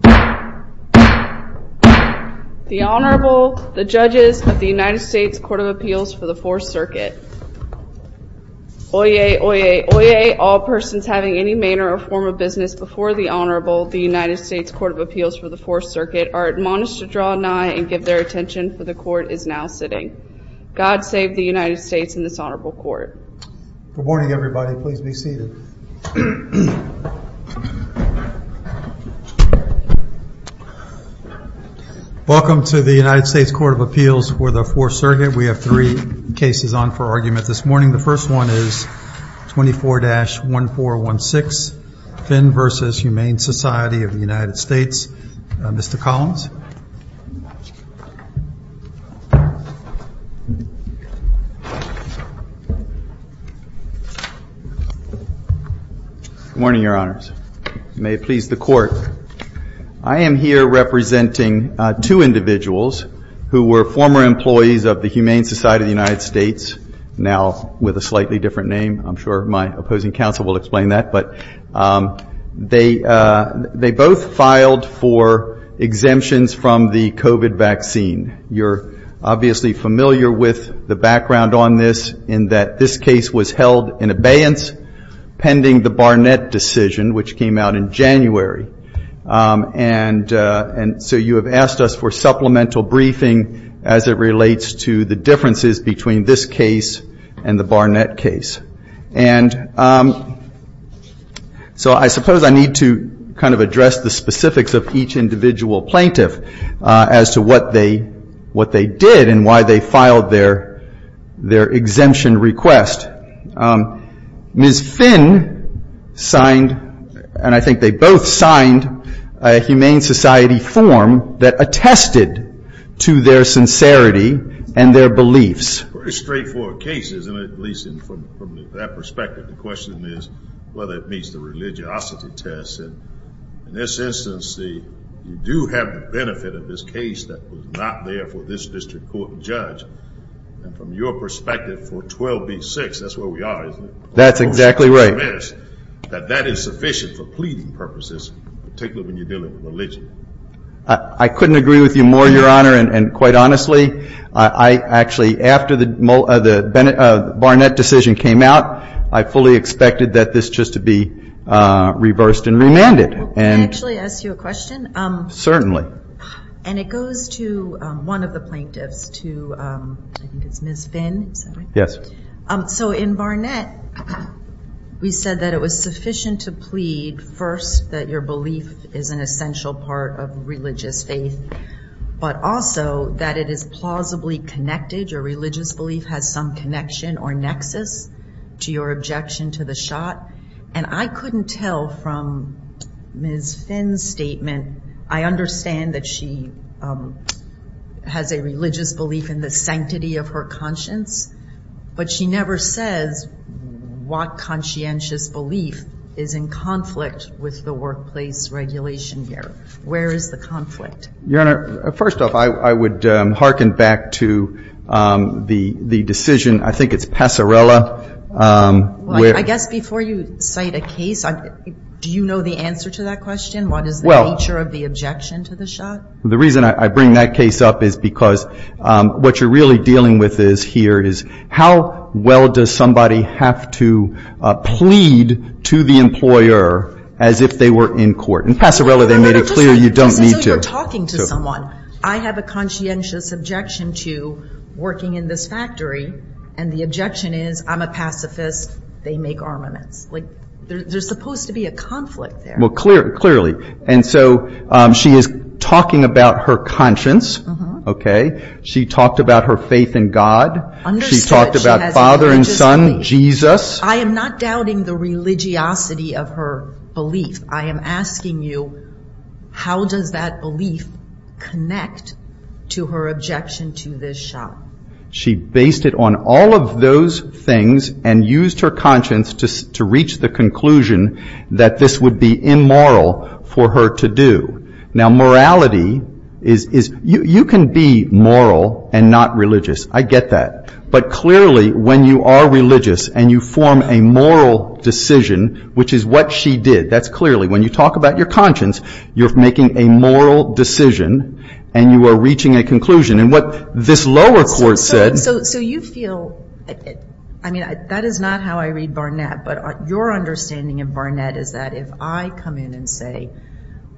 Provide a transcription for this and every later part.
The Honorable, the Judges of the United States Court of Appeals for the 4th Circuit. Oyez, oyez, oyez, all persons having any manor or form of business before the Honorable, the United States Court of Appeals for the 4th Circuit, are admonished to draw nigh and give their attention, for the Court is now sitting. God save the United States and this Honorable Court. Good morning everybody, please be seated. Welcome to the United States Court of Appeals for the 4th Circuit. We have three cases on for argument this morning. The first one is 24-1416, Finn v. Humane Society of the United States. Mr. Collins. Good morning, Your Honors. May it please the Court. I am here representing two individuals who were former employees of the Humane Society of the United States, now with a slightly different name. I'm sure my opposing counsel will explain that. But they both filed for exemptions from the COVID vaccine. You're obviously familiar with the background on this in that this case was held in abeyance pending the Barnett decision, which came out in January. And so you have asked us for supplemental briefing as it relates to the differences between this case and the Barnett case. And so I suppose I need to kind of address the specifics of each individual plaintiff as to what they did and why they filed their exemption request. Ms. Finn signed, and I think they both signed, a Humane Society form that attested to their sincerity and their beliefs. It's a pretty straightforward case, isn't it, at least from that perspective? The question is whether it meets the religiosity test. And in this instance, you do have the benefit of this case that was not there for this district court judge. And from your perspective, for 12B-6, that's where we are, isn't it? That's exactly right. That is sufficient for pleading purposes, particularly when you're dealing with religion. I couldn't agree with you more, Your Honor. And quite honestly, I actually, after the Barnett decision came out, I fully expected that this just to be reversed and remanded. Can I actually ask you a question? Certainly. And it goes to one of the plaintiffs, to I think it's Ms. Finn, is that right? Yes. So in Barnett, we said that it was sufficient to plead first that your belief is an essential part of religious faith, but also that it is plausibly connected, your religious belief has some connection or nexus to your objection to the shot. And I couldn't tell from Ms. Finn's statement, I understand that she has a religious belief in the sanctity of her conscience, but she never says what conscientious belief is in conflict with the workplace regulation here. Where is the conflict? Your Honor, first off, I would hearken back to the decision, I think it's Passarella. I guess before you cite a case, do you know the answer to that question? What is the nature of the objection to the shot? Well, the reason I bring that case up is because what you're really dealing with here is how well does somebody have to plead to the employer as if they were in court? In Passarella, they made it clear you don't need to. Just as if you're talking to someone. I have a conscientious objection to working in this factory, and the objection is I'm a pacifist, they make armaments. Like, there's supposed to be a conflict there. Well, clearly. And so she is talking about her conscience, okay? She talked about her faith in God. Understood. She talked about Father and Son, Jesus. I am not doubting the religiosity of her belief. I am asking you, how does that belief connect to her objection to this shot? She based it on all of those things and used her conscience to reach the conclusion that this would be immoral for her to do. Now, morality is, you can be moral and not religious. I get that. But clearly, when you are religious and you form a moral decision, which is what she did, that's clearly, when you talk about your conscience, you're making a moral decision and you are reaching a conclusion. And what this lower court said. So you feel, I mean, that is not how I read Barnett. But your understanding of Barnett is that if I come in and say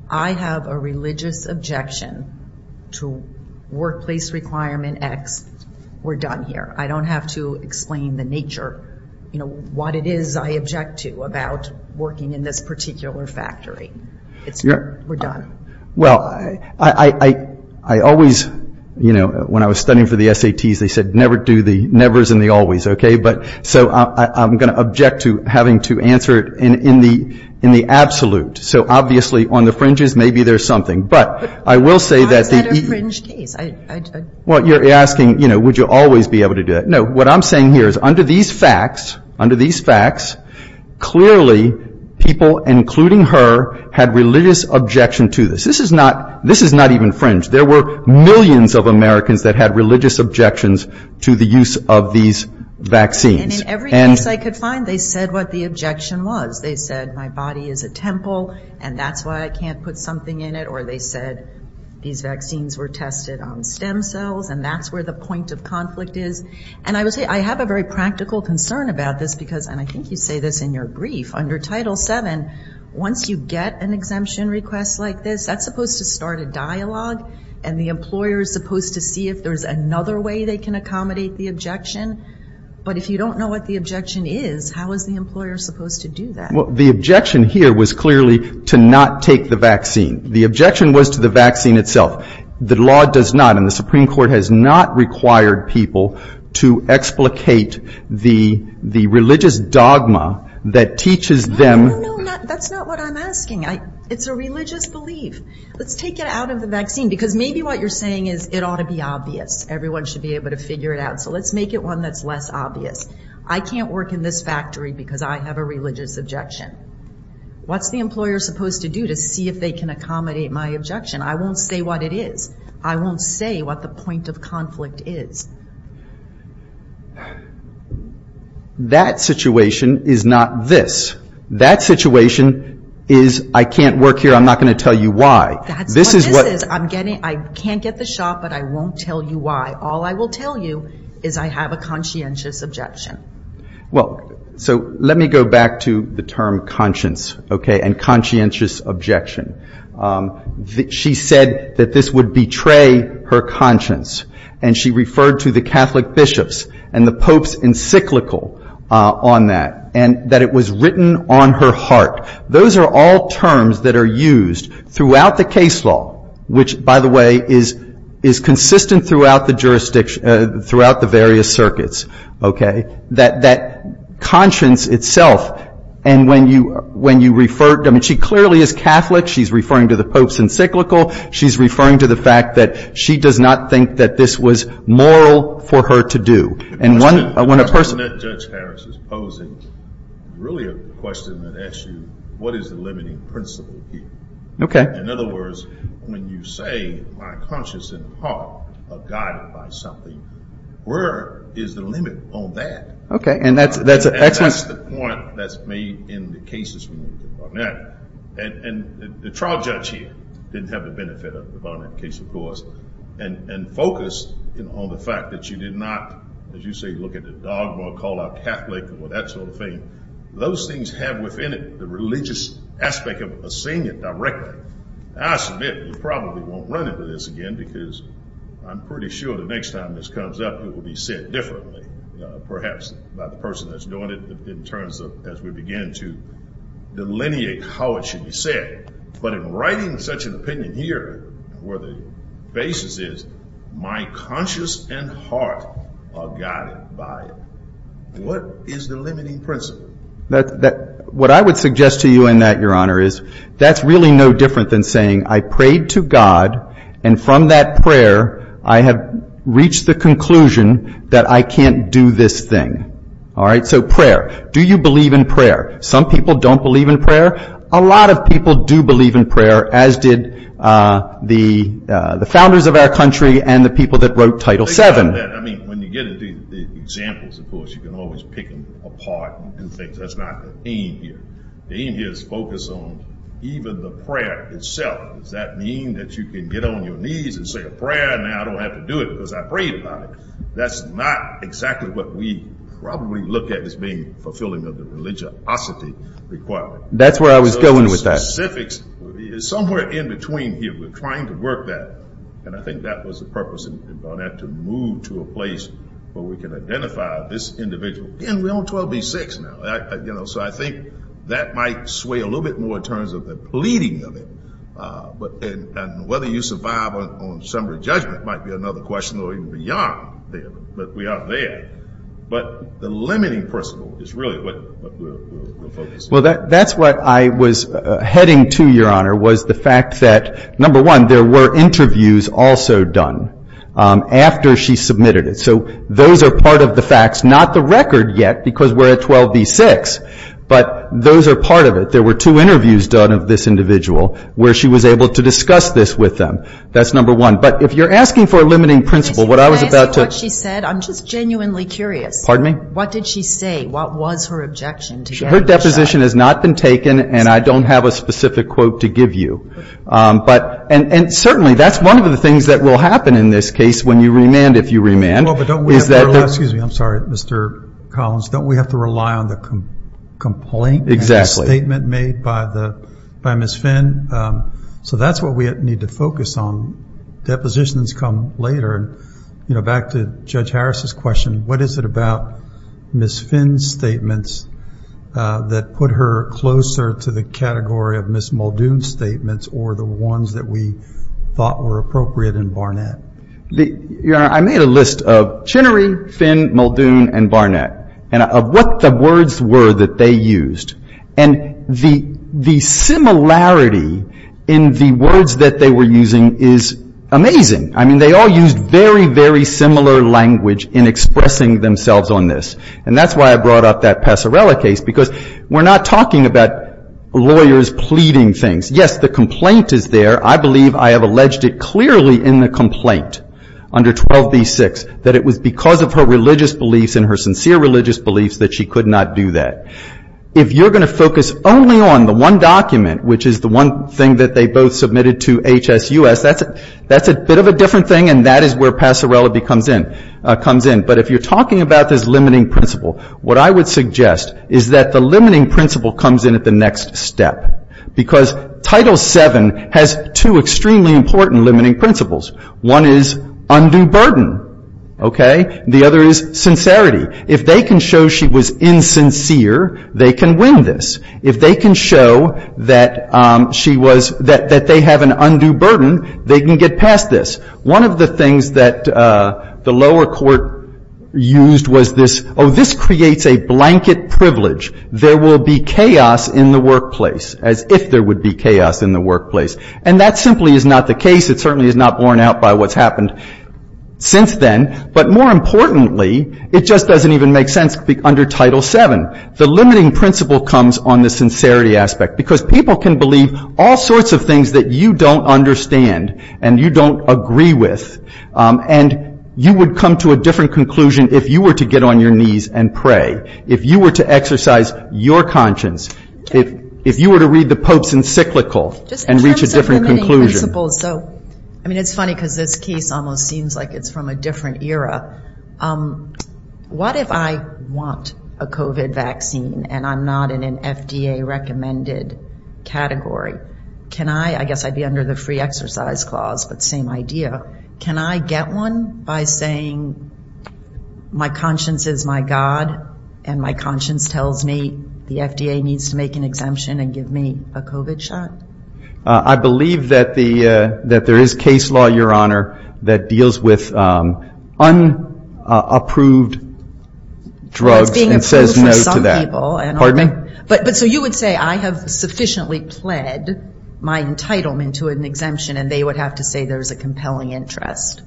I have a religious objection to workplace requirement X, we're done here. I don't have to explain the nature, you know, what it is I object to about working in this particular factory. We're done. Well, I always, you know, when I was studying for the SATs, they said never do the nevers and the always, okay? So I'm going to object to having to answer it in the absolute. So obviously, on the fringes, maybe there's something. But I will say that the- It's not a fringe case. Well, you're asking, you know, would you always be able to do it? No, what I'm saying here is under these facts, under these facts, clearly people, including her, had religious objection to this. This is not even fringe. There were millions of Americans that had religious objections to the use of these vaccines. And in every case I could find, they said what the objection was. They said my body is a temple and that's why I can't put something in it. Or they said these vaccines were tested on stem cells and that's where the point of conflict is. And I would say I have a very practical concern about this because, and I think you say this in your brief, under Title VII, once you get an exemption request like this, that's supposed to start a dialogue and the employer is supposed to see if there's another way they can accommodate the objection. But if you don't know what the objection is, how is the employer supposed to do that? Well, the objection here was clearly to not take the vaccine. The objection was to the vaccine itself. The law does not and the Supreme Court has not required people to explicate the religious dogma that teaches them. No, no, no, that's not what I'm asking. It's a religious belief. Let's take it out of the vaccine because maybe what you're saying is it ought to be obvious. Everyone should be able to figure it out. So let's make it one that's less obvious. I can't work in this factory because I have a religious objection. What's the employer supposed to do to see if they can accommodate my objection? I won't say what it is. I won't say what the point of conflict is. That situation is not this. That situation is I can't work here, I'm not going to tell you why. That's what this is. I can't get the shot, but I won't tell you why. All I will tell you is I have a conscientious objection. So let me go back to the term conscience and conscientious objection. She said that this would betray her conscience, and she referred to the Catholic bishops and the Pope's encyclical on that, and that it was written on her heart. Those are all terms that are used throughout the case law, which, by the way, is consistent throughout the various circuits. That conscience itself, and when you refer to them, she clearly is Catholic. She's referring to the Pope's encyclical. She's referring to the fact that she does not think that this was moral for her to do. And when a person- The question that Judge Harris is posing is really a question that asks you, what is the limiting principle here? Okay. In other words, when you say my conscience and heart are guided by something, where is the limit on that? Okay, and that's an excellent- And that's the point that's made in the cases from the Barnett. And the trial judge here didn't have the benefit of the Barnett case, of course, and focused on the fact that you did not, as you say, look at the dogma, call out Catholic or that sort of thing. Those things have within it the religious aspect of seeing it directly. I submit you probably won't run into this again because I'm pretty sure the next time this comes up it will be said differently, perhaps by the person that's doing it in terms of as we begin to delineate how it should be said. But in writing such an opinion here where the basis is my conscience and heart are guided by it, what is the limiting principle? What I would suggest to you in that, Your Honor, is that's really no different than saying I prayed to God and from that prayer I have reached the conclusion that I can't do this thing. All right, so prayer. Do you believe in prayer? Some people don't believe in prayer. A lot of people do believe in prayer, as did the founders of our country and the people that wrote Title VII. I mean, when you get into the examples, of course, you can always pick them apart and do things. That's not the aim here. The aim here is focus on even the prayer itself. Does that mean that you can get on your knees and say a prayer and now I don't have to do it because I prayed about it? That's not exactly what we probably look at as being fulfilling of the religiosity requirement. That's where I was going with that. The specifics is somewhere in between here. We're trying to work that, and I think that was the purpose. We're going to have to move to a place where we can identify this individual. Again, we're on 12B-6 now. So I think that might sway a little bit more in terms of the pleading of it, and whether you survive on summary judgment might be another question, or even beyond there, but we are there. But the limiting principle is really what we're focusing on. Well, that's what I was heading to, Your Honor, was the fact that, number one, there were interviews also done after she submitted it. So those are part of the facts, not the record yet, because we're at 12B-6, but those are part of it. There were two interviews done of this individual where she was able to discuss this with them. That's number one. But if you're asking for a limiting principle, what I was about to- Can I ask you what she said? I'm just genuinely curious. Pardon me? What did she say? What was her objection? Her deposition has not been taken, and I don't have a specific quote to give you. And certainly that's one of the things that will happen in this case when you remand, if you remand. Well, but don't we have to rely- Excuse me. I'm sorry, Mr. Collins. Don't we have to rely on the complaint- Exactly. And the statement made by Ms. Finn? So that's what we need to focus on. Depositions come later. Back to Judge Harris's question, what is it about Ms. Finn's statements that put her closer to the category of Ms. Muldoon's statements or the ones that we thought were appropriate in Barnett? Your Honor, I made a list of Chinnery, Finn, Muldoon, and Barnett, and of what the words were that they used. And the similarity in the words that they were using is amazing. I mean, they all used very, very similar language in expressing themselves on this. And that's why I brought up that Passarella case, because we're not talking about lawyers pleading things. Yes, the complaint is there. I believe I have alleged it clearly in the complaint under 12b-6, that it was because of her religious beliefs and her sincere religious beliefs that she could not do that. If you're going to focus only on the one document, which is the one thing that they both submitted to HSUS, that's a bit of a different thing, and that is where Passarella comes in. But if you're talking about this limiting principle, what I would suggest is that the limiting principle comes in at the next step. Because Title VII has two extremely important limiting principles. One is undue burden. Okay? The other is sincerity. If they can show she was insincere, they can win this. If they can show that she was, that they have an undue burden, they can get past this. One of the things that the lower court used was this, oh, this creates a blanket privilege. There will be chaos in the workplace, as if there would be chaos in the workplace. And that simply is not the case. It certainly is not borne out by what's happened since then. But more importantly, it just doesn't even make sense under Title VII. The limiting principle comes on the sincerity aspect, because people can believe all sorts of things that you don't understand and you don't agree with. And you would come to a different conclusion if you were to get on your knees and pray, if you were to exercise your conscience, if you were to read the Pope's encyclical and reach a different conclusion. I mean, it's funny, because this case almost seems like it's from a different era. What if I want a COVID vaccine and I'm not in an FDA-recommended category? I guess I'd be under the free exercise clause, but same idea. Can I get one by saying my conscience is my God and my conscience tells me the FDA needs to make an exemption and give me a COVID shot? I believe that there is case law, Your Honor, that deals with unapproved drugs. Well, it's being approved for some people. Pardon me? But so you would say I have sufficiently pled my entitlement to an exemption and they would have to say there's a compelling interest.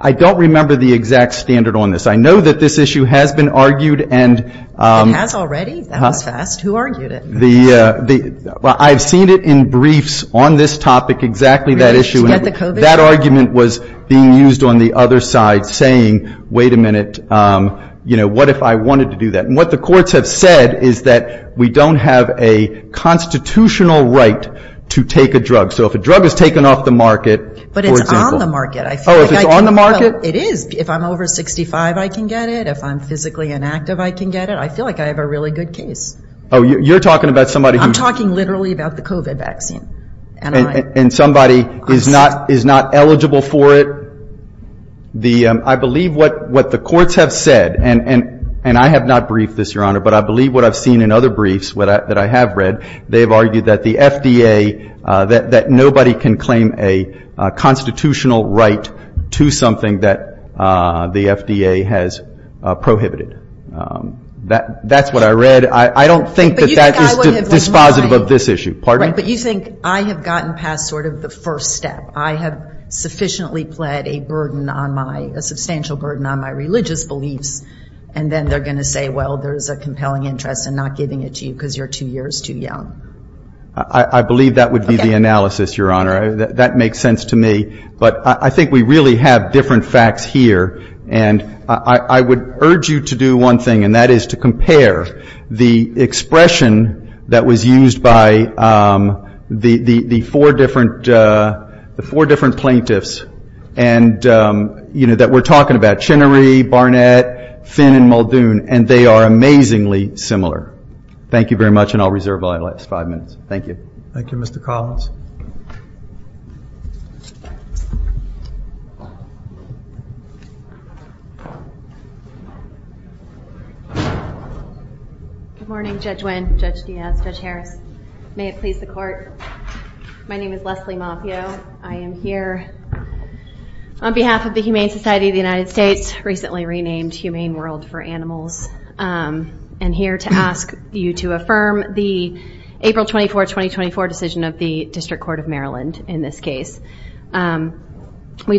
I don't remember the exact standard on this. I know that this issue has been argued and- It has already? That was fast. Who argued it? I've seen it in briefs on this topic, exactly that issue. To get the COVID? That argument was being used on the other side, saying, wait a minute, what if I wanted to do that? And what the courts have said is that we don't have a constitutional right to take a drug. So if a drug is taken off the market, for example- But it's on the market. Oh, if it's on the market? It is. If I'm over 65, I can get it. If I'm physically inactive, I can get it. I feel like I have a really good case. Oh, you're talking about somebody who- I'm talking literally about the COVID vaccine. And somebody is not eligible for it? I believe what the courts have said, and I have not briefed this, Your Honor, but I believe what I've seen in other briefs that I have read, they've argued that the FDA, that nobody can claim a constitutional right to something that the FDA has prohibited. That's what I read. I don't think that that is dispositive of this issue. Pardon me? But you think I have gotten past sort of the first step. I have sufficiently pled a burden on my-a substantial burden on my religious beliefs, and then they're going to say, well, there's a compelling interest in not giving it to you because you're two years too young. I believe that would be the analysis, Your Honor. That makes sense to me. But I think we really have different facts here, and I would urge you to do one thing, and that is to compare the expression that was used by the four different plaintiffs that we're talking about, Chinnery, Barnett, Finn, and Muldoon, and they are amazingly similar. Thank you very much, and I'll reserve my last five minutes. Thank you. Thank you, Mr. Collins. Good morning, Judge Wynn, Judge Diaz, Judge Harris. May it please the Court. My name is Leslie Mafio. I am here on behalf of the Humane Society of the United States, recently renamed Humane World for Animals, and here to ask you to affirm the April 24, 2024 decision of the District Court of Maryland in this case. We've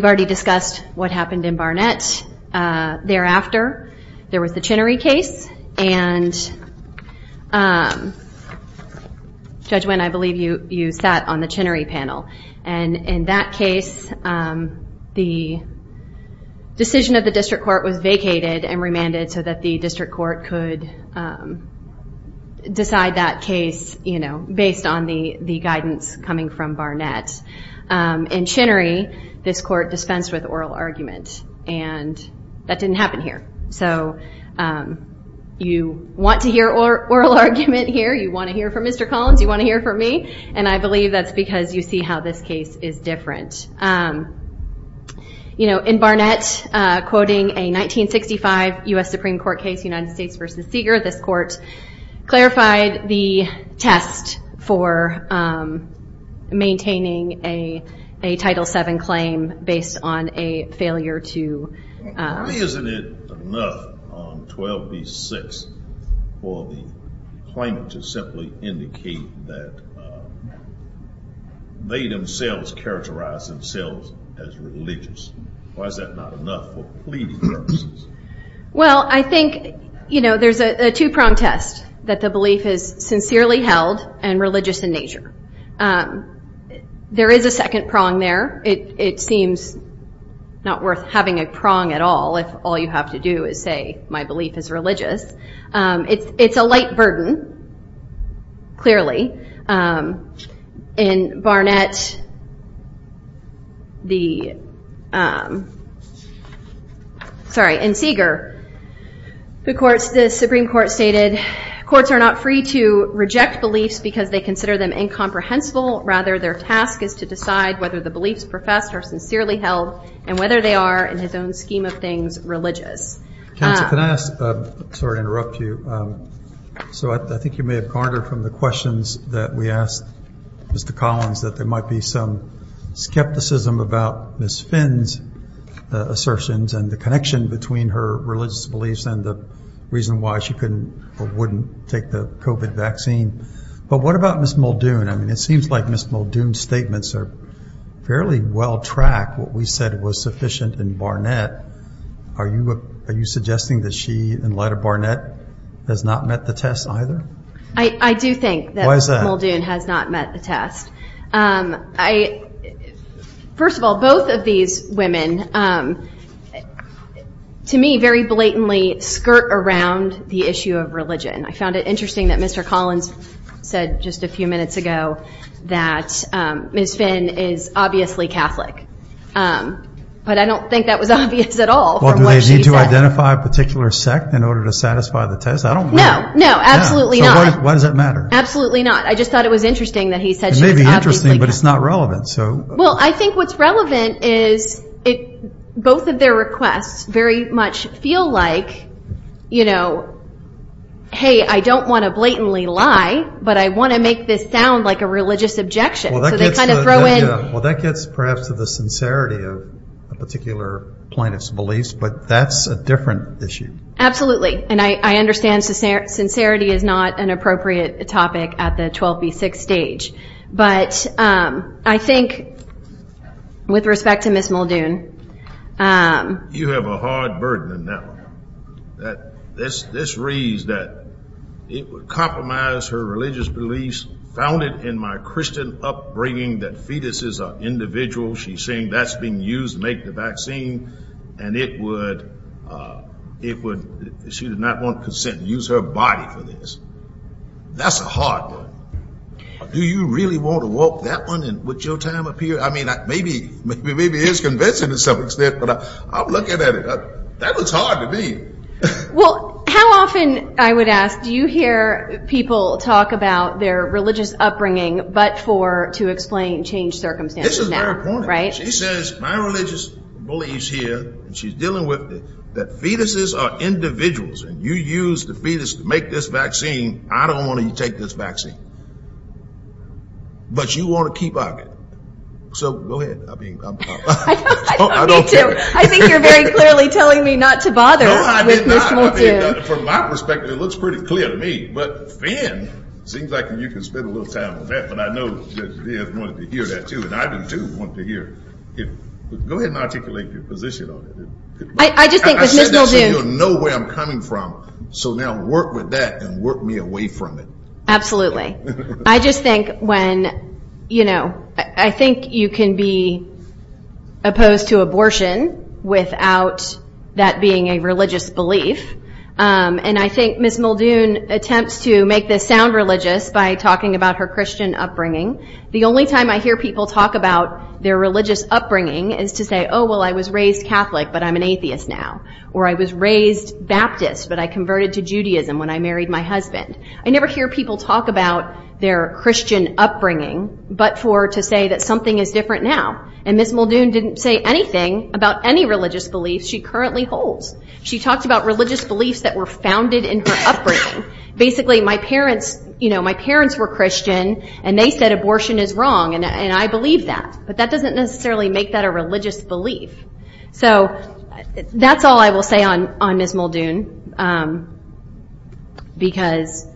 already discussed what happened in Barnett. Thereafter, there was the Chinnery case, and Judge Wynn, I believe you sat on the Chinnery panel, and in that case, the decision of the District Court was vacated and remanded so that the District Court could decide that case, you know, based on the guidance coming from Barnett. In Chinnery, this court dispensed with oral argument, and that didn't happen here. So you want to hear oral argument here, you want to hear from Mr. Collins, you want to hear from me, and I believe that's because you see how this case is different. You know, in Barnett, quoting a 1965 U.S. Supreme Court case, United States v. Seeger, this court clarified the test for maintaining a Title VII claim based on a failure to Why isn't it enough on 12 v. 6 for the claimant to simply indicate that they themselves characterize themselves as religious? Why is that not enough for plea purposes? Well, I think, you know, there's a two-prong test, that the belief is sincerely held and religious in nature. There is a second prong there. It seems not worth having a prong at all if all you have to do is say, my belief is religious. It's a light burden, clearly. In Barnett, the, sorry, in Seeger, the Supreme Court stated, Courts are not free to reject beliefs because they consider them incomprehensible. Rather, their task is to decide whether the beliefs professed are sincerely held and whether they are, in his own scheme of things, religious. Counsel, can I ask, sorry to interrupt you, so I think you may have garnered from the questions that we asked Mr. Collins that there might be some skepticism about Ms. Finn's assertions and the connection between her religious beliefs and the reason why she couldn't or wouldn't take the COVID vaccine. But what about Ms. Muldoon? I mean, it seems like Ms. Muldoon's statements are fairly well tracked, what we said was sufficient in Barnett. Are you suggesting that she, in light of Barnett, has not met the test either? I do think that Muldoon has not met the test. Why is that? First of all, both of these women, to me, very blatantly skirt around the issue of religion. I found it interesting that Mr. Collins said just a few minutes ago that Ms. Finn is obviously Catholic. But I don't think that was obvious at all from what she said. Well, do they need to identify a particular sect in order to satisfy the test? I don't know. No, no, absolutely not. So why does it matter? Absolutely not. I just thought it was interesting that he said she was obviously Catholic. It may be interesting, but it's not relevant. Well, I think what's relevant is both of their requests very much feel like, you know, hey, I don't want to blatantly lie, but I want to make this sound like a religious objection. So they kind of throw in. Well, that gets perhaps to the sincerity of a particular plaintiff's beliefs, but that's a different issue. Absolutely. And I understand sincerity is not an appropriate topic at the 12B6 stage. But I think with respect to Ms. Muldoon. You have a hard burden in that one. This reads that it would compromise her religious beliefs, found it in my Christian upbringing that fetuses are individuals. She's saying that's being used to make the vaccine, and she did not want consent to use her body for this. That's a hard one. Do you really want to walk that one? Would your time appear? I mean, maybe it is convincing to some extent, but I'm looking at it. That looks hard to me. Well, how often, I would ask, do you hear people talk about their religious upbringing, but for to explain changed circumstances? This is very important. She says, my religious beliefs here, and she's dealing with it, that fetuses are individuals, and you use the fetus to make this vaccine. I don't want to take this vaccine. But you want to keep up it. So go ahead. I don't care. I think you're very clearly telling me not to bother with Ms. Muldoon. No, I did not. From my perspective, it looks pretty clear to me. But, Finn, it seems like you can spend a little time on that, but I know that Death wanted to hear that too, and I do want to hear it. Go ahead and articulate your position on it. I just think with Ms. Muldoon. I said that so you'll know where I'm coming from. So now work with that and work me away from it. Absolutely. I just think when, you know, I think you can be opposed to abortion without that being a religious belief, and I think Ms. Muldoon attempts to make this sound religious by talking about her Christian upbringing. The only time I hear people talk about their religious upbringing is to say, oh, well, I was raised Catholic, but I'm an atheist now. Or I was raised Baptist, but I converted to Judaism when I married my husband. I never hear people talk about their Christian upbringing, but for to say that something is different now. And Ms. Muldoon didn't say anything about any religious beliefs she currently holds. She talked about religious beliefs that were founded in her upbringing. Basically, my parents were Christian, and they said abortion is wrong, and I believe that, but that doesn't necessarily make that a religious belief. So that's all I will say on Ms. Muldoon because,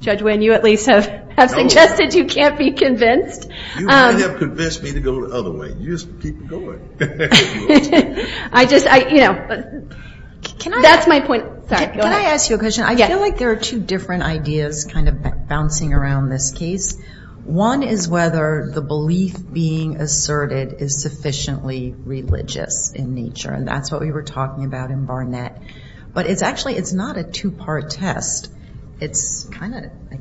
Judge Wynn, you at least have suggested you can't be convinced. You may have convinced me to go the other way. You just keep going. I just, you know, that's my point. Can I ask you a question? I feel like there are two different ideas kind of bouncing around this case. One is whether the belief being asserted is sufficiently religious in nature, and that's what we were talking about in Barnett. But it's actually not a two-part test. I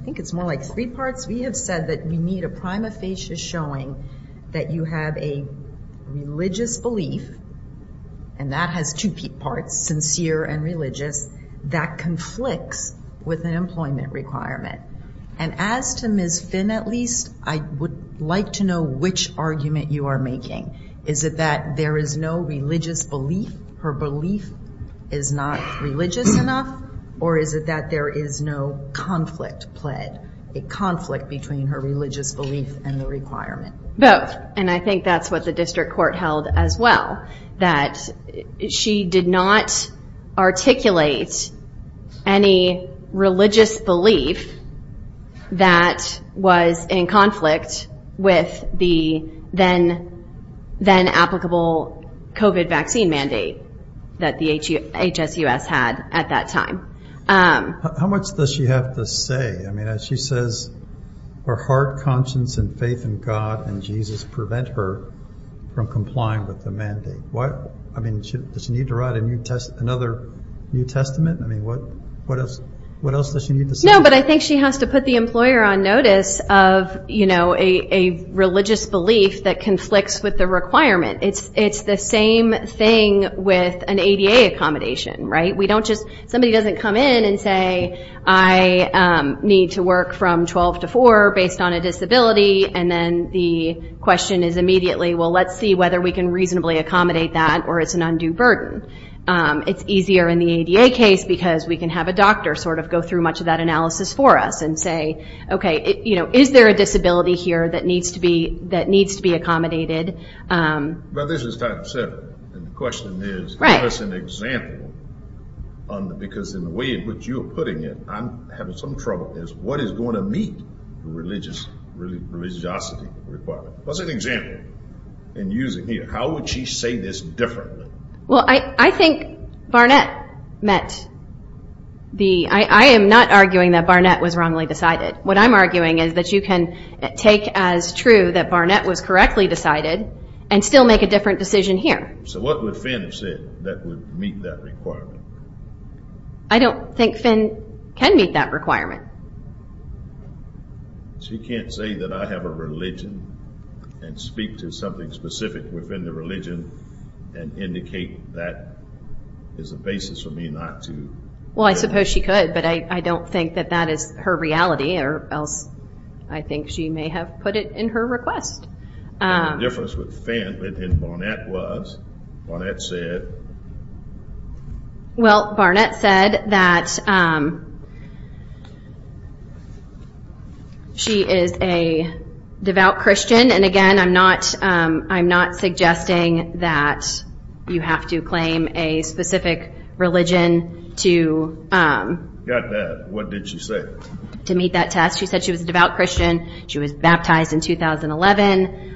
think it's more like three parts. We have said that you need a prima facie showing that you have a religious belief, and that has two parts, sincere and religious, that conflicts with an employment requirement. And as to Ms. Finn, at least, I would like to know which argument you are making. Is it that there is no religious belief, her belief is not religious enough, or is it that there is no conflict played, a conflict between her religious belief and the requirement? Both, and I think that's what the district court held as well, that she did not articulate any religious belief that was in conflict with the then-applicable COVID vaccine mandate that the HSUS had at that time. How much does she have to say? She says her heart, conscience, and faith in God and Jesus prevent her from complying with the mandate. Does she need to write another New Testament? What else does she need to say? No, but I think she has to put the employer on notice of a religious belief that conflicts with the requirement. It's the same thing with an ADA accommodation. Somebody doesn't come in and say, I need to work from 12 to 4 based on a disability, and then the question is immediately, well, let's see whether we can reasonably accommodate that, or it's an undue burden. It's easier in the ADA case because we can have a doctor sort of go through much of that analysis for us and say, okay, is there a disability here that needs to be accommodated? But this is type 7, and the question is, give us an example because in the way in which you're putting it, I'm having some trouble. What is going to meet the religiosity requirement? What's an example in using here? How would she say this differently? Well, I think Barnett met the – I am not arguing that Barnett was wrongly decided. What I'm arguing is that you can take as true that Barnett was correctly decided and still make a different decision here. So what would Finn have said that would meet that requirement? I don't think Finn can meet that requirement. She can't say that I have a religion and speak to something specific within the religion and indicate that as a basis for me not to. Well, I suppose she could, but I don't think that that is her reality, or else I think she may have put it in her request. The difference with Finn and Barnett was Barnett said – Well, Barnett said that she is a devout Christian, and again, I'm not suggesting that you have to claim a specific religion to – Got that. What did she say? To meet that test. She said she was a devout Christian. She was baptized in 2011.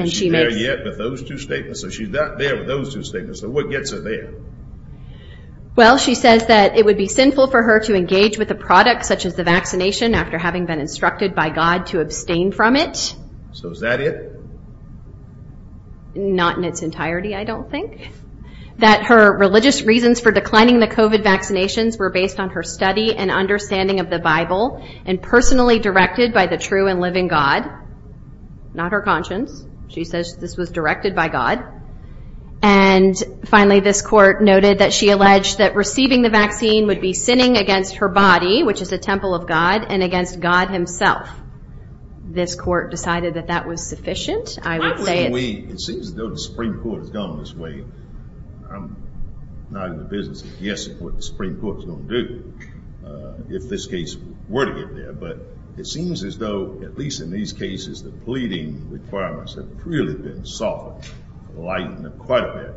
Is she there yet with those two statements? So she's not there with those two statements. So what gets her there? Well, she says that it would be sinful for her to engage with a product such as the vaccination after having been instructed by God to abstain from it. So is that it? Not in its entirety, I don't think. That her religious reasons for declining the COVID vaccinations were based on her study and understanding of the Bible and personally directed by the true and living God. Not her conscience. She says this was directed by God. And finally, this court noted that she alleged that receiving the vaccine would be sinning against her body, which is a temple of God, and against God himself. This court decided that that was sufficient. It seems as though the Supreme Court has gone this way. I'm not in the business of guessing what the Supreme Court is going to do if this case were to get there. But it seems as though, at least in these cases, the pleading requirements have really been softened, lightened quite a bit.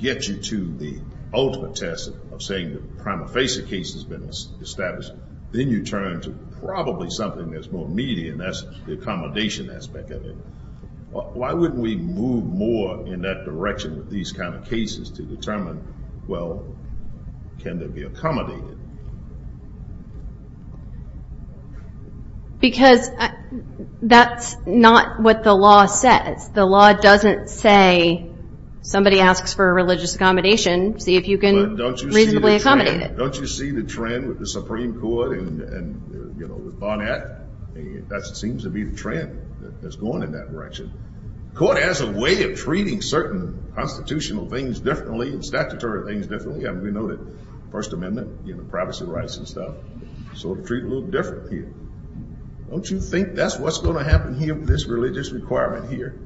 Gets you to the ultimate test of saying the prima facie case has been established. Then you turn to probably something that's more meaty, and that's the accommodation aspect of it. Why wouldn't we move more in that direction with these kind of cases to determine, well, can there be accommodated? Because that's not what the law says. The law doesn't say somebody asks for a religious accommodation, see if you can reasonably accommodate it. Don't you see the trend with the Supreme Court and, you know, with Barnett? That seems to be the trend that's going in that direction. The court has a way of treating certain constitutional things differently and statutory things differently. We know that First Amendment, you know, privacy rights and stuff. So we'll treat it a little different here. Don't you think that's what's going to happen here with this religious requirement here?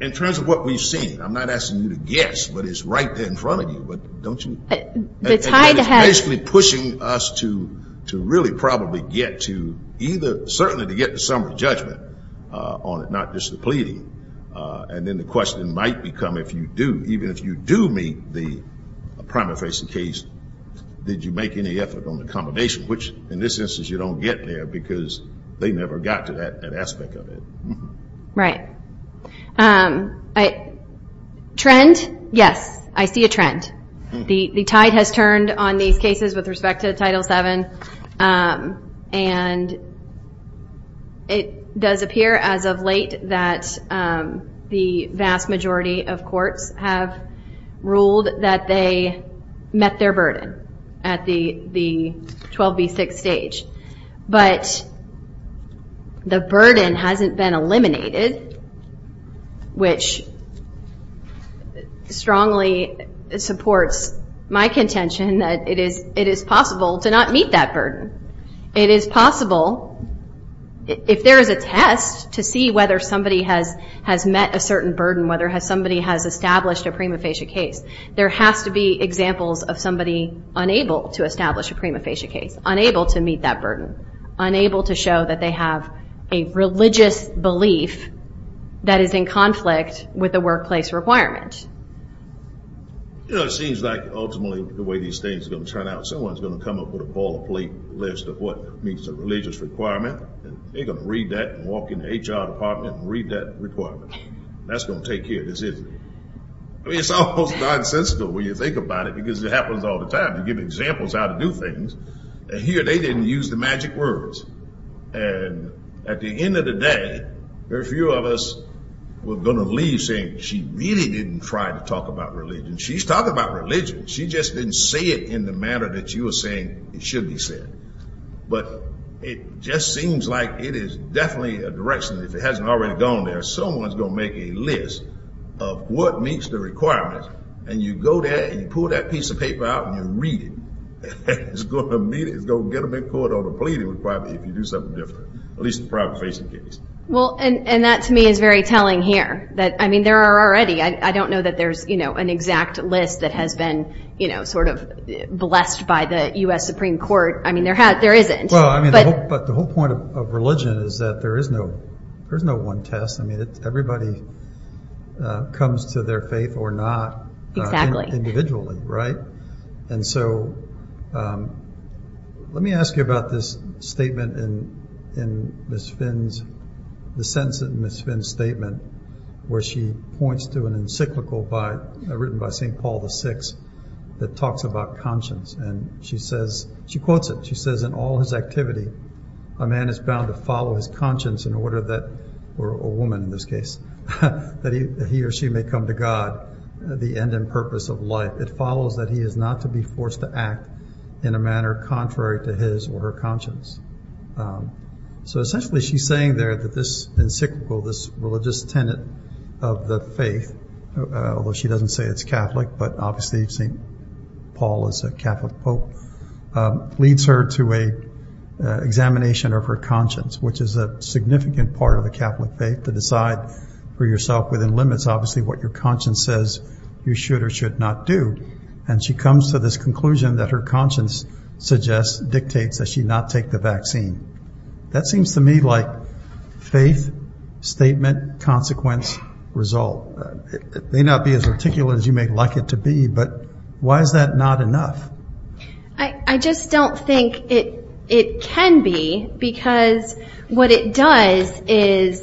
In terms of what we've seen, I'm not asking you to guess, but it's right there in front of you. It's basically pushing us to really probably get to either certainly to get to summary judgment on it, not just the pleading. And then the question might become if you do, even if you do meet the primary facing case, did you make any effort on the accommodation, which in this instance you don't get there because they never got to that aspect of it. Right. Trend? Yes, I see a trend. The tide has turned on these cases with respect to Title VII, and it does appear as of late that the vast majority of courts have ruled that they met their burden at the 12B6 stage. But the burden hasn't been eliminated, which strongly supports my contention that it is possible to not meet that It is possible, if there is a test to see whether somebody has met a certain burden, whether somebody has established a prima facie case, there has to be examples of somebody unable to establish a prima facie case, unable to meet that burden, unable to show that they have a religious belief that is in conflict with the workplace requirement. It seems like ultimately the way these things are going to turn out, someone is going to come up with a ball plate list of what meets a religious requirement, and they're going to read that and walk into the HR department and read that requirement. That's going to take care of this issue. I mean, it's almost nonsensical when you think about it because it happens all the time. You give examples how to do things, and here they didn't use the magic words. And at the end of the day, very few of us were going to leave saying, she really didn't try to talk about religion. She's talking about religion. She just didn't say it in the manner that you were saying it should be said. But it just seems like it is definitely a direction. If it hasn't already gone there, someone is going to make a list of what meets the requirement, and you go there and you pull that piece of paper out and you read it. It's going to meet it. It's going to get a big quote on the pleading requirement if you do something different, at least in the private facing case. And that, to me, is very telling here. I mean, there are already. I don't know that there's an exact list that has been sort of blessed by the U.S. Supreme Court. I mean, there isn't. But the whole point of religion is that there is no one test. I mean, everybody comes to their faith or not. Exactly. Individually, right? And so let me ask you about this statement in Ms. Finn's, the sentence in Ms. Finn's statement where she points to an encyclical written by St. Paul VI that talks about conscience. And she says, she quotes it. She says, in all his activity, a man is bound to follow his conscience in order that, or a woman in this case, that he or she may come to God, the end and purpose of life. It follows that he is not to be forced to act in a manner contrary to his or her conscience. So essentially she's saying there that this encyclical, this religious tenet of the faith, although she doesn't say it's Catholic, but obviously St. Paul is a Catholic pope, leads her to an examination of her conscience, which is a significant part of the Catholic faith, to decide for yourself within limits obviously what your conscience says you should or should not do. And she comes to this conclusion that her conscience dictates that she not take the vaccine. That seems to me like faith, statement, consequence, result. It may not be as articulate as you may like it to be, but why is that not enough? I just don't think it can be because what it does is,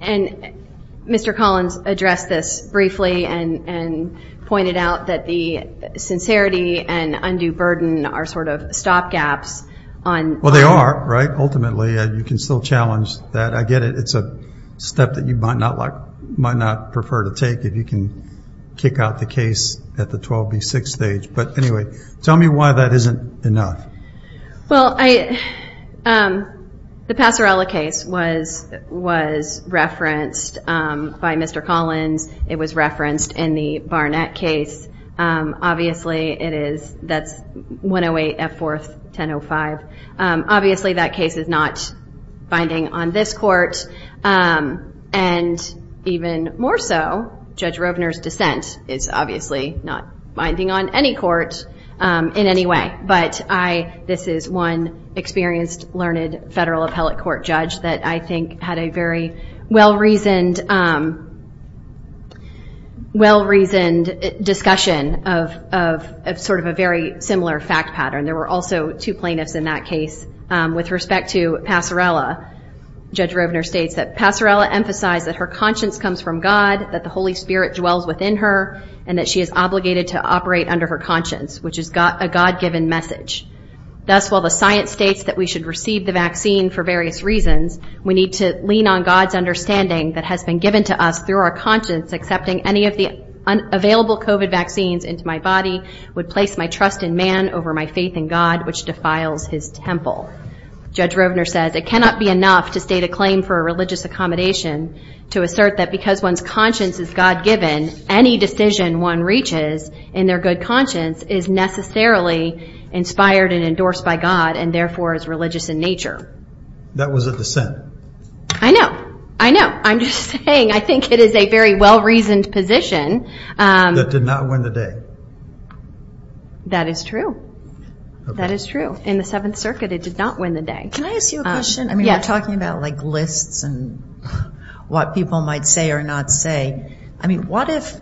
and Mr. Collins addressed this briefly and pointed out that the sincerity and undue burden are sort of stop gaps. Well, they are, right, ultimately. You can still challenge that. I get it. It's a step that you might not like, might not prefer to take if you can kick out the case at the 12B6 stage. But anyway, tell me why that isn't enough. Well, the Passerella case was referenced by Mr. Collins. It was referenced in the Barnett case. Obviously it is, that's 108 F. 4th, 1005. Obviously that case is not binding on this court. And even more so, Judge Robner's dissent is obviously not binding on any court in any way. But this is one experienced, learned federal appellate court judge that I think had a very well-reasoned discussion of sort of a very similar fact pattern. There were also two plaintiffs in that case. With respect to Passerella, Judge Robner states that Passerella emphasized that her conscience comes from God, that the Holy Spirit dwells within her, and that she is obligated to operate under her conscience, which is a God-given message. Thus, while the science states that we should receive the vaccine for various reasons, we need to lean on God's understanding that has been given to us through our conscience, accepting any of the available COVID vaccines into my body would place my trust in man over my faith in God, which defiles his temple. Judge Robner says, It cannot be enough to state a claim for a religious accommodation to assert that because one's conscience is God-given, any decision one reaches in their good conscience is necessarily inspired and endorsed by God, and therefore is religious in nature. That was a dissent. I know, I know. I'm just saying, I think it is a very well-reasoned position. That did not win the day. That is true. That is true. In the Seventh Circuit, it did not win the day. Can I ask you a question? Yes. I mean, we're talking about, like, lists and what people might say or not say. I mean, what if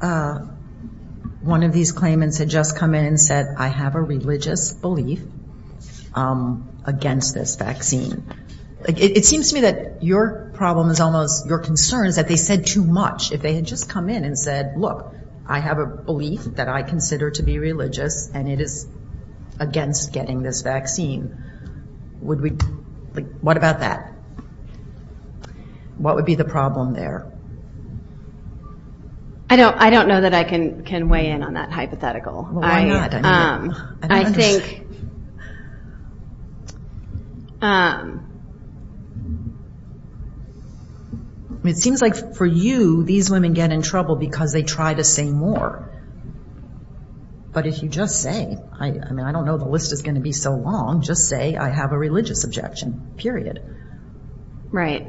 one of these claimants had just come in and said, I have a religious belief against this vaccine? It seems to me that your problem is almost your concern is that they said too much. If they had just come in and said, look, I have a belief that I consider to be religious, and it is against getting this vaccine, would we, like, what about that? What would be the problem there? I don't know that I can weigh in on that hypothetical. Well, why not? I think it seems like for you, these women get in trouble because they try to say more. But if you just say, I mean, I don't know the list is going to be so long, just say I have a religious objection, period. Right.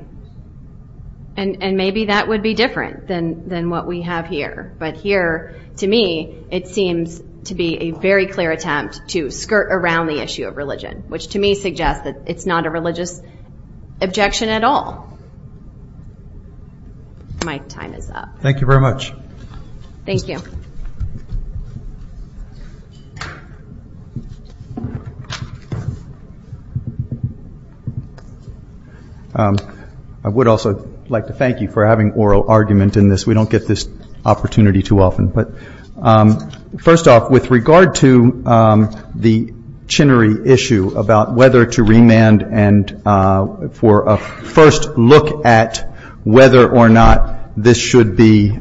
And maybe that would be different than what we have here. But here, to me, it seems to be a very clear attempt to skirt around the issue of religion, which to me suggests that it's not a religious objection at all. My time is up. Thank you very much. Thank you. I would also like to thank you for having oral argument in this. We don't get this opportunity too often. But first off, with regard to the Chinnery issue about whether to remand and for a first look at whether or not this should be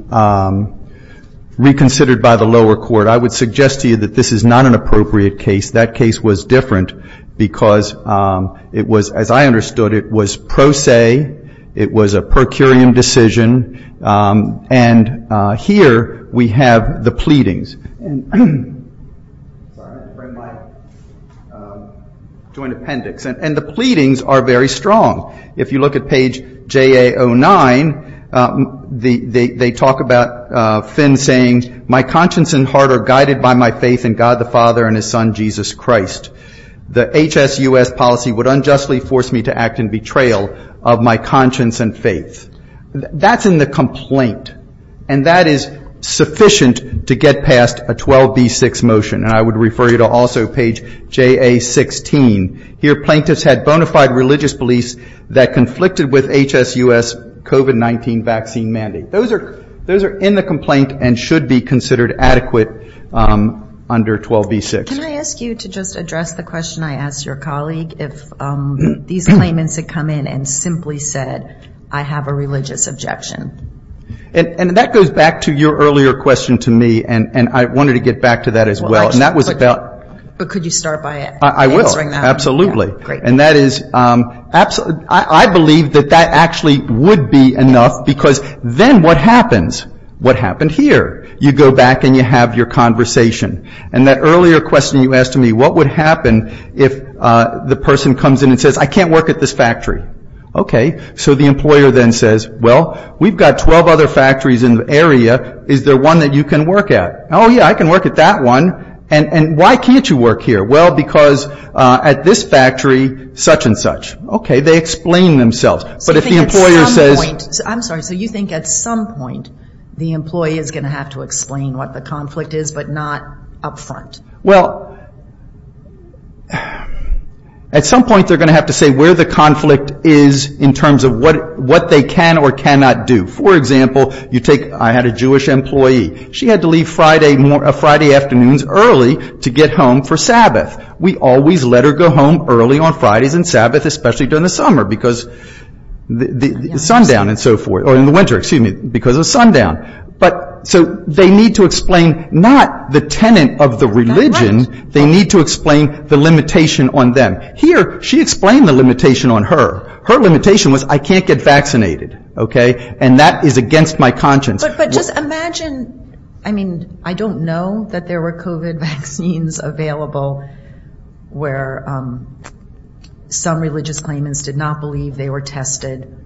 reconsidered by the lower court, I would suggest to you that this is not an appropriate case. That case was different because it was, as I understood it, it was pro se. It was a per curiam decision. And here we have the pleadings. And the pleadings are very strong. If you look at page JA09, they talk about Finn saying, my conscience and heart are guided by my faith in God the Father and His Son, Jesus Christ. The HSUS policy would unjustly force me to act in betrayal of my conscience and faith. That's in the complaint. And that is sufficient to get past a 12B6 motion. And I would refer you to also page JA16. Here, plaintiffs had bona fide religious beliefs that conflicted with HSUS COVID-19 vaccine mandate. Those are in the complaint and should be considered adequate under 12B6. Can I ask you to just address the question I asked your colleague? If these claimants had come in and simply said, I have a religious objection. And that goes back to your earlier question to me. And I wanted to get back to that as well. But could you start by answering that? I will, absolutely. And that is, I believe that that actually would be enough because then what happens? What happened here? You go back and you have your conversation. And that earlier question you asked me, what would happen if the person comes in and says, I can't work at this factory? Okay. So the employer then says, well, we've got 12 other factories in the area. Is there one that you can work at? Oh, yeah, I can work at that one. And why can't you work here? Well, because at this factory, such and such. Okay. They explain themselves. But if the employer says. I'm sorry, so you think at some point the employee is going to have to explain what the conflict is but not up front? Well, at some point they're going to have to say where the conflict is in terms of what they can or cannot do. For example, you take, I had a Jewish employee. She had to leave Friday afternoons early to get home for Sabbath. We always let her go home early on Fridays and Sabbath, especially during the summer because the sundown and so forth. Or in the winter, excuse me, because of sundown. But so they need to explain not the tenant of the religion. They need to explain the limitation on them. Here, she explained the limitation on her. Her limitation was I can't get vaccinated. Okay. And that is against my conscience. But just imagine, I mean, I don't know that there were COVID vaccines available where some religious claimants did not believe they were tested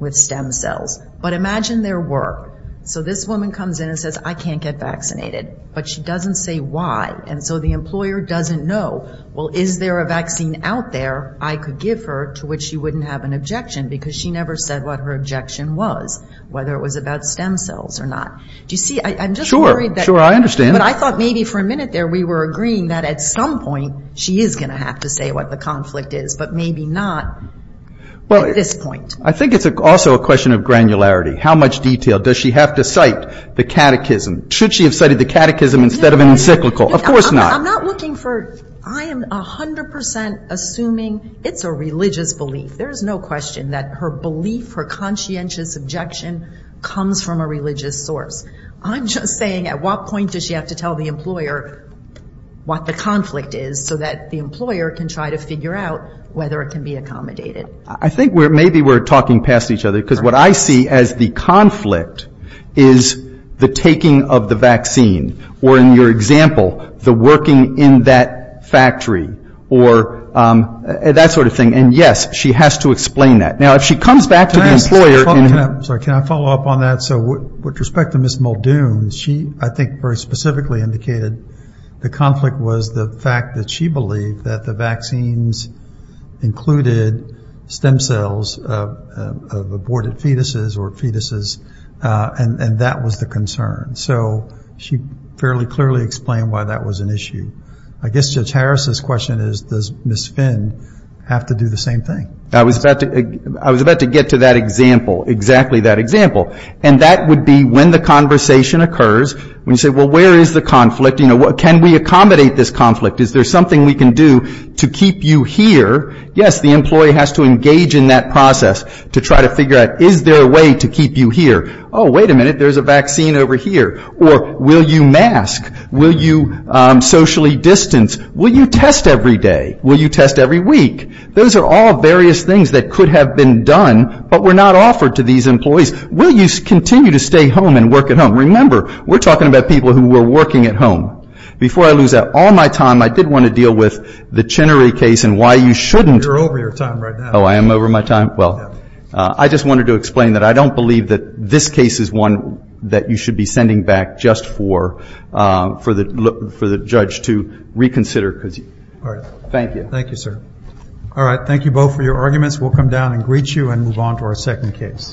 with stem cells. But imagine there were. So this woman comes in and says I can't get vaccinated. But she doesn't say why. And so the employer doesn't know. Well, is there a vaccine out there I could give her to which she wouldn't have an objection because she never said what her objection was. Whether it was about stem cells or not. Do you see? I'm just worried that. Sure, I understand. But I thought maybe for a minute there we were agreeing that at some point she is going to have to say what the conflict is. But maybe not at this point. I think it's also a question of granularity. How much detail? Does she have to cite the catechism? Should she have cited the catechism instead of an encyclical? Of course not. I'm not looking for. I am 100 percent assuming it's a religious belief. There is no question that her belief, her conscientious objection comes from a religious source. I'm just saying at what point does she have to tell the employer what the conflict is so that the employer can try to figure out whether it can be accommodated. I think maybe we're talking past each other. Because what I see as the conflict is the taking of the vaccine. Or in your example, the working in that factory. Or that sort of thing. And, yes, she has to explain that. Now, if she comes back to the employer. Can I follow up on that? So with respect to Ms. Muldoon, she I think very specifically indicated the conflict was the fact that she believed that the vaccines included stem cells of aborted fetuses or fetuses. And that was the concern. So she fairly clearly explained why that was an issue. I guess Judge Harris's question is, does Ms. Finn have to do the same thing? I was about to get to that example. Exactly that example. And that would be when the conversation occurs. When you say, well, where is the conflict? Can we accommodate this conflict? Is there something we can do to keep you here? Yes, the employee has to engage in that process to try to figure out, is there a way to keep you here? Oh, wait a minute, there's a vaccine over here. Or will you mask? Will you socially distance? Will you test every day? Will you test every week? Those are all various things that could have been done but were not offered to these employees. Will you continue to stay home and work at home? Remember, we're talking about people who were working at home. Before I lose all my time, I did want to deal with the Chinnery case and why you shouldn't. You're over your time right now. Oh, I am over my time? Well, I just wanted to explain that I don't believe that this case is one that you should be sending back just for the judge to reconsider. All right. Thank you. Thank you, sir. All right, thank you both for your arguments. We'll come down and greet you and move on to our second case.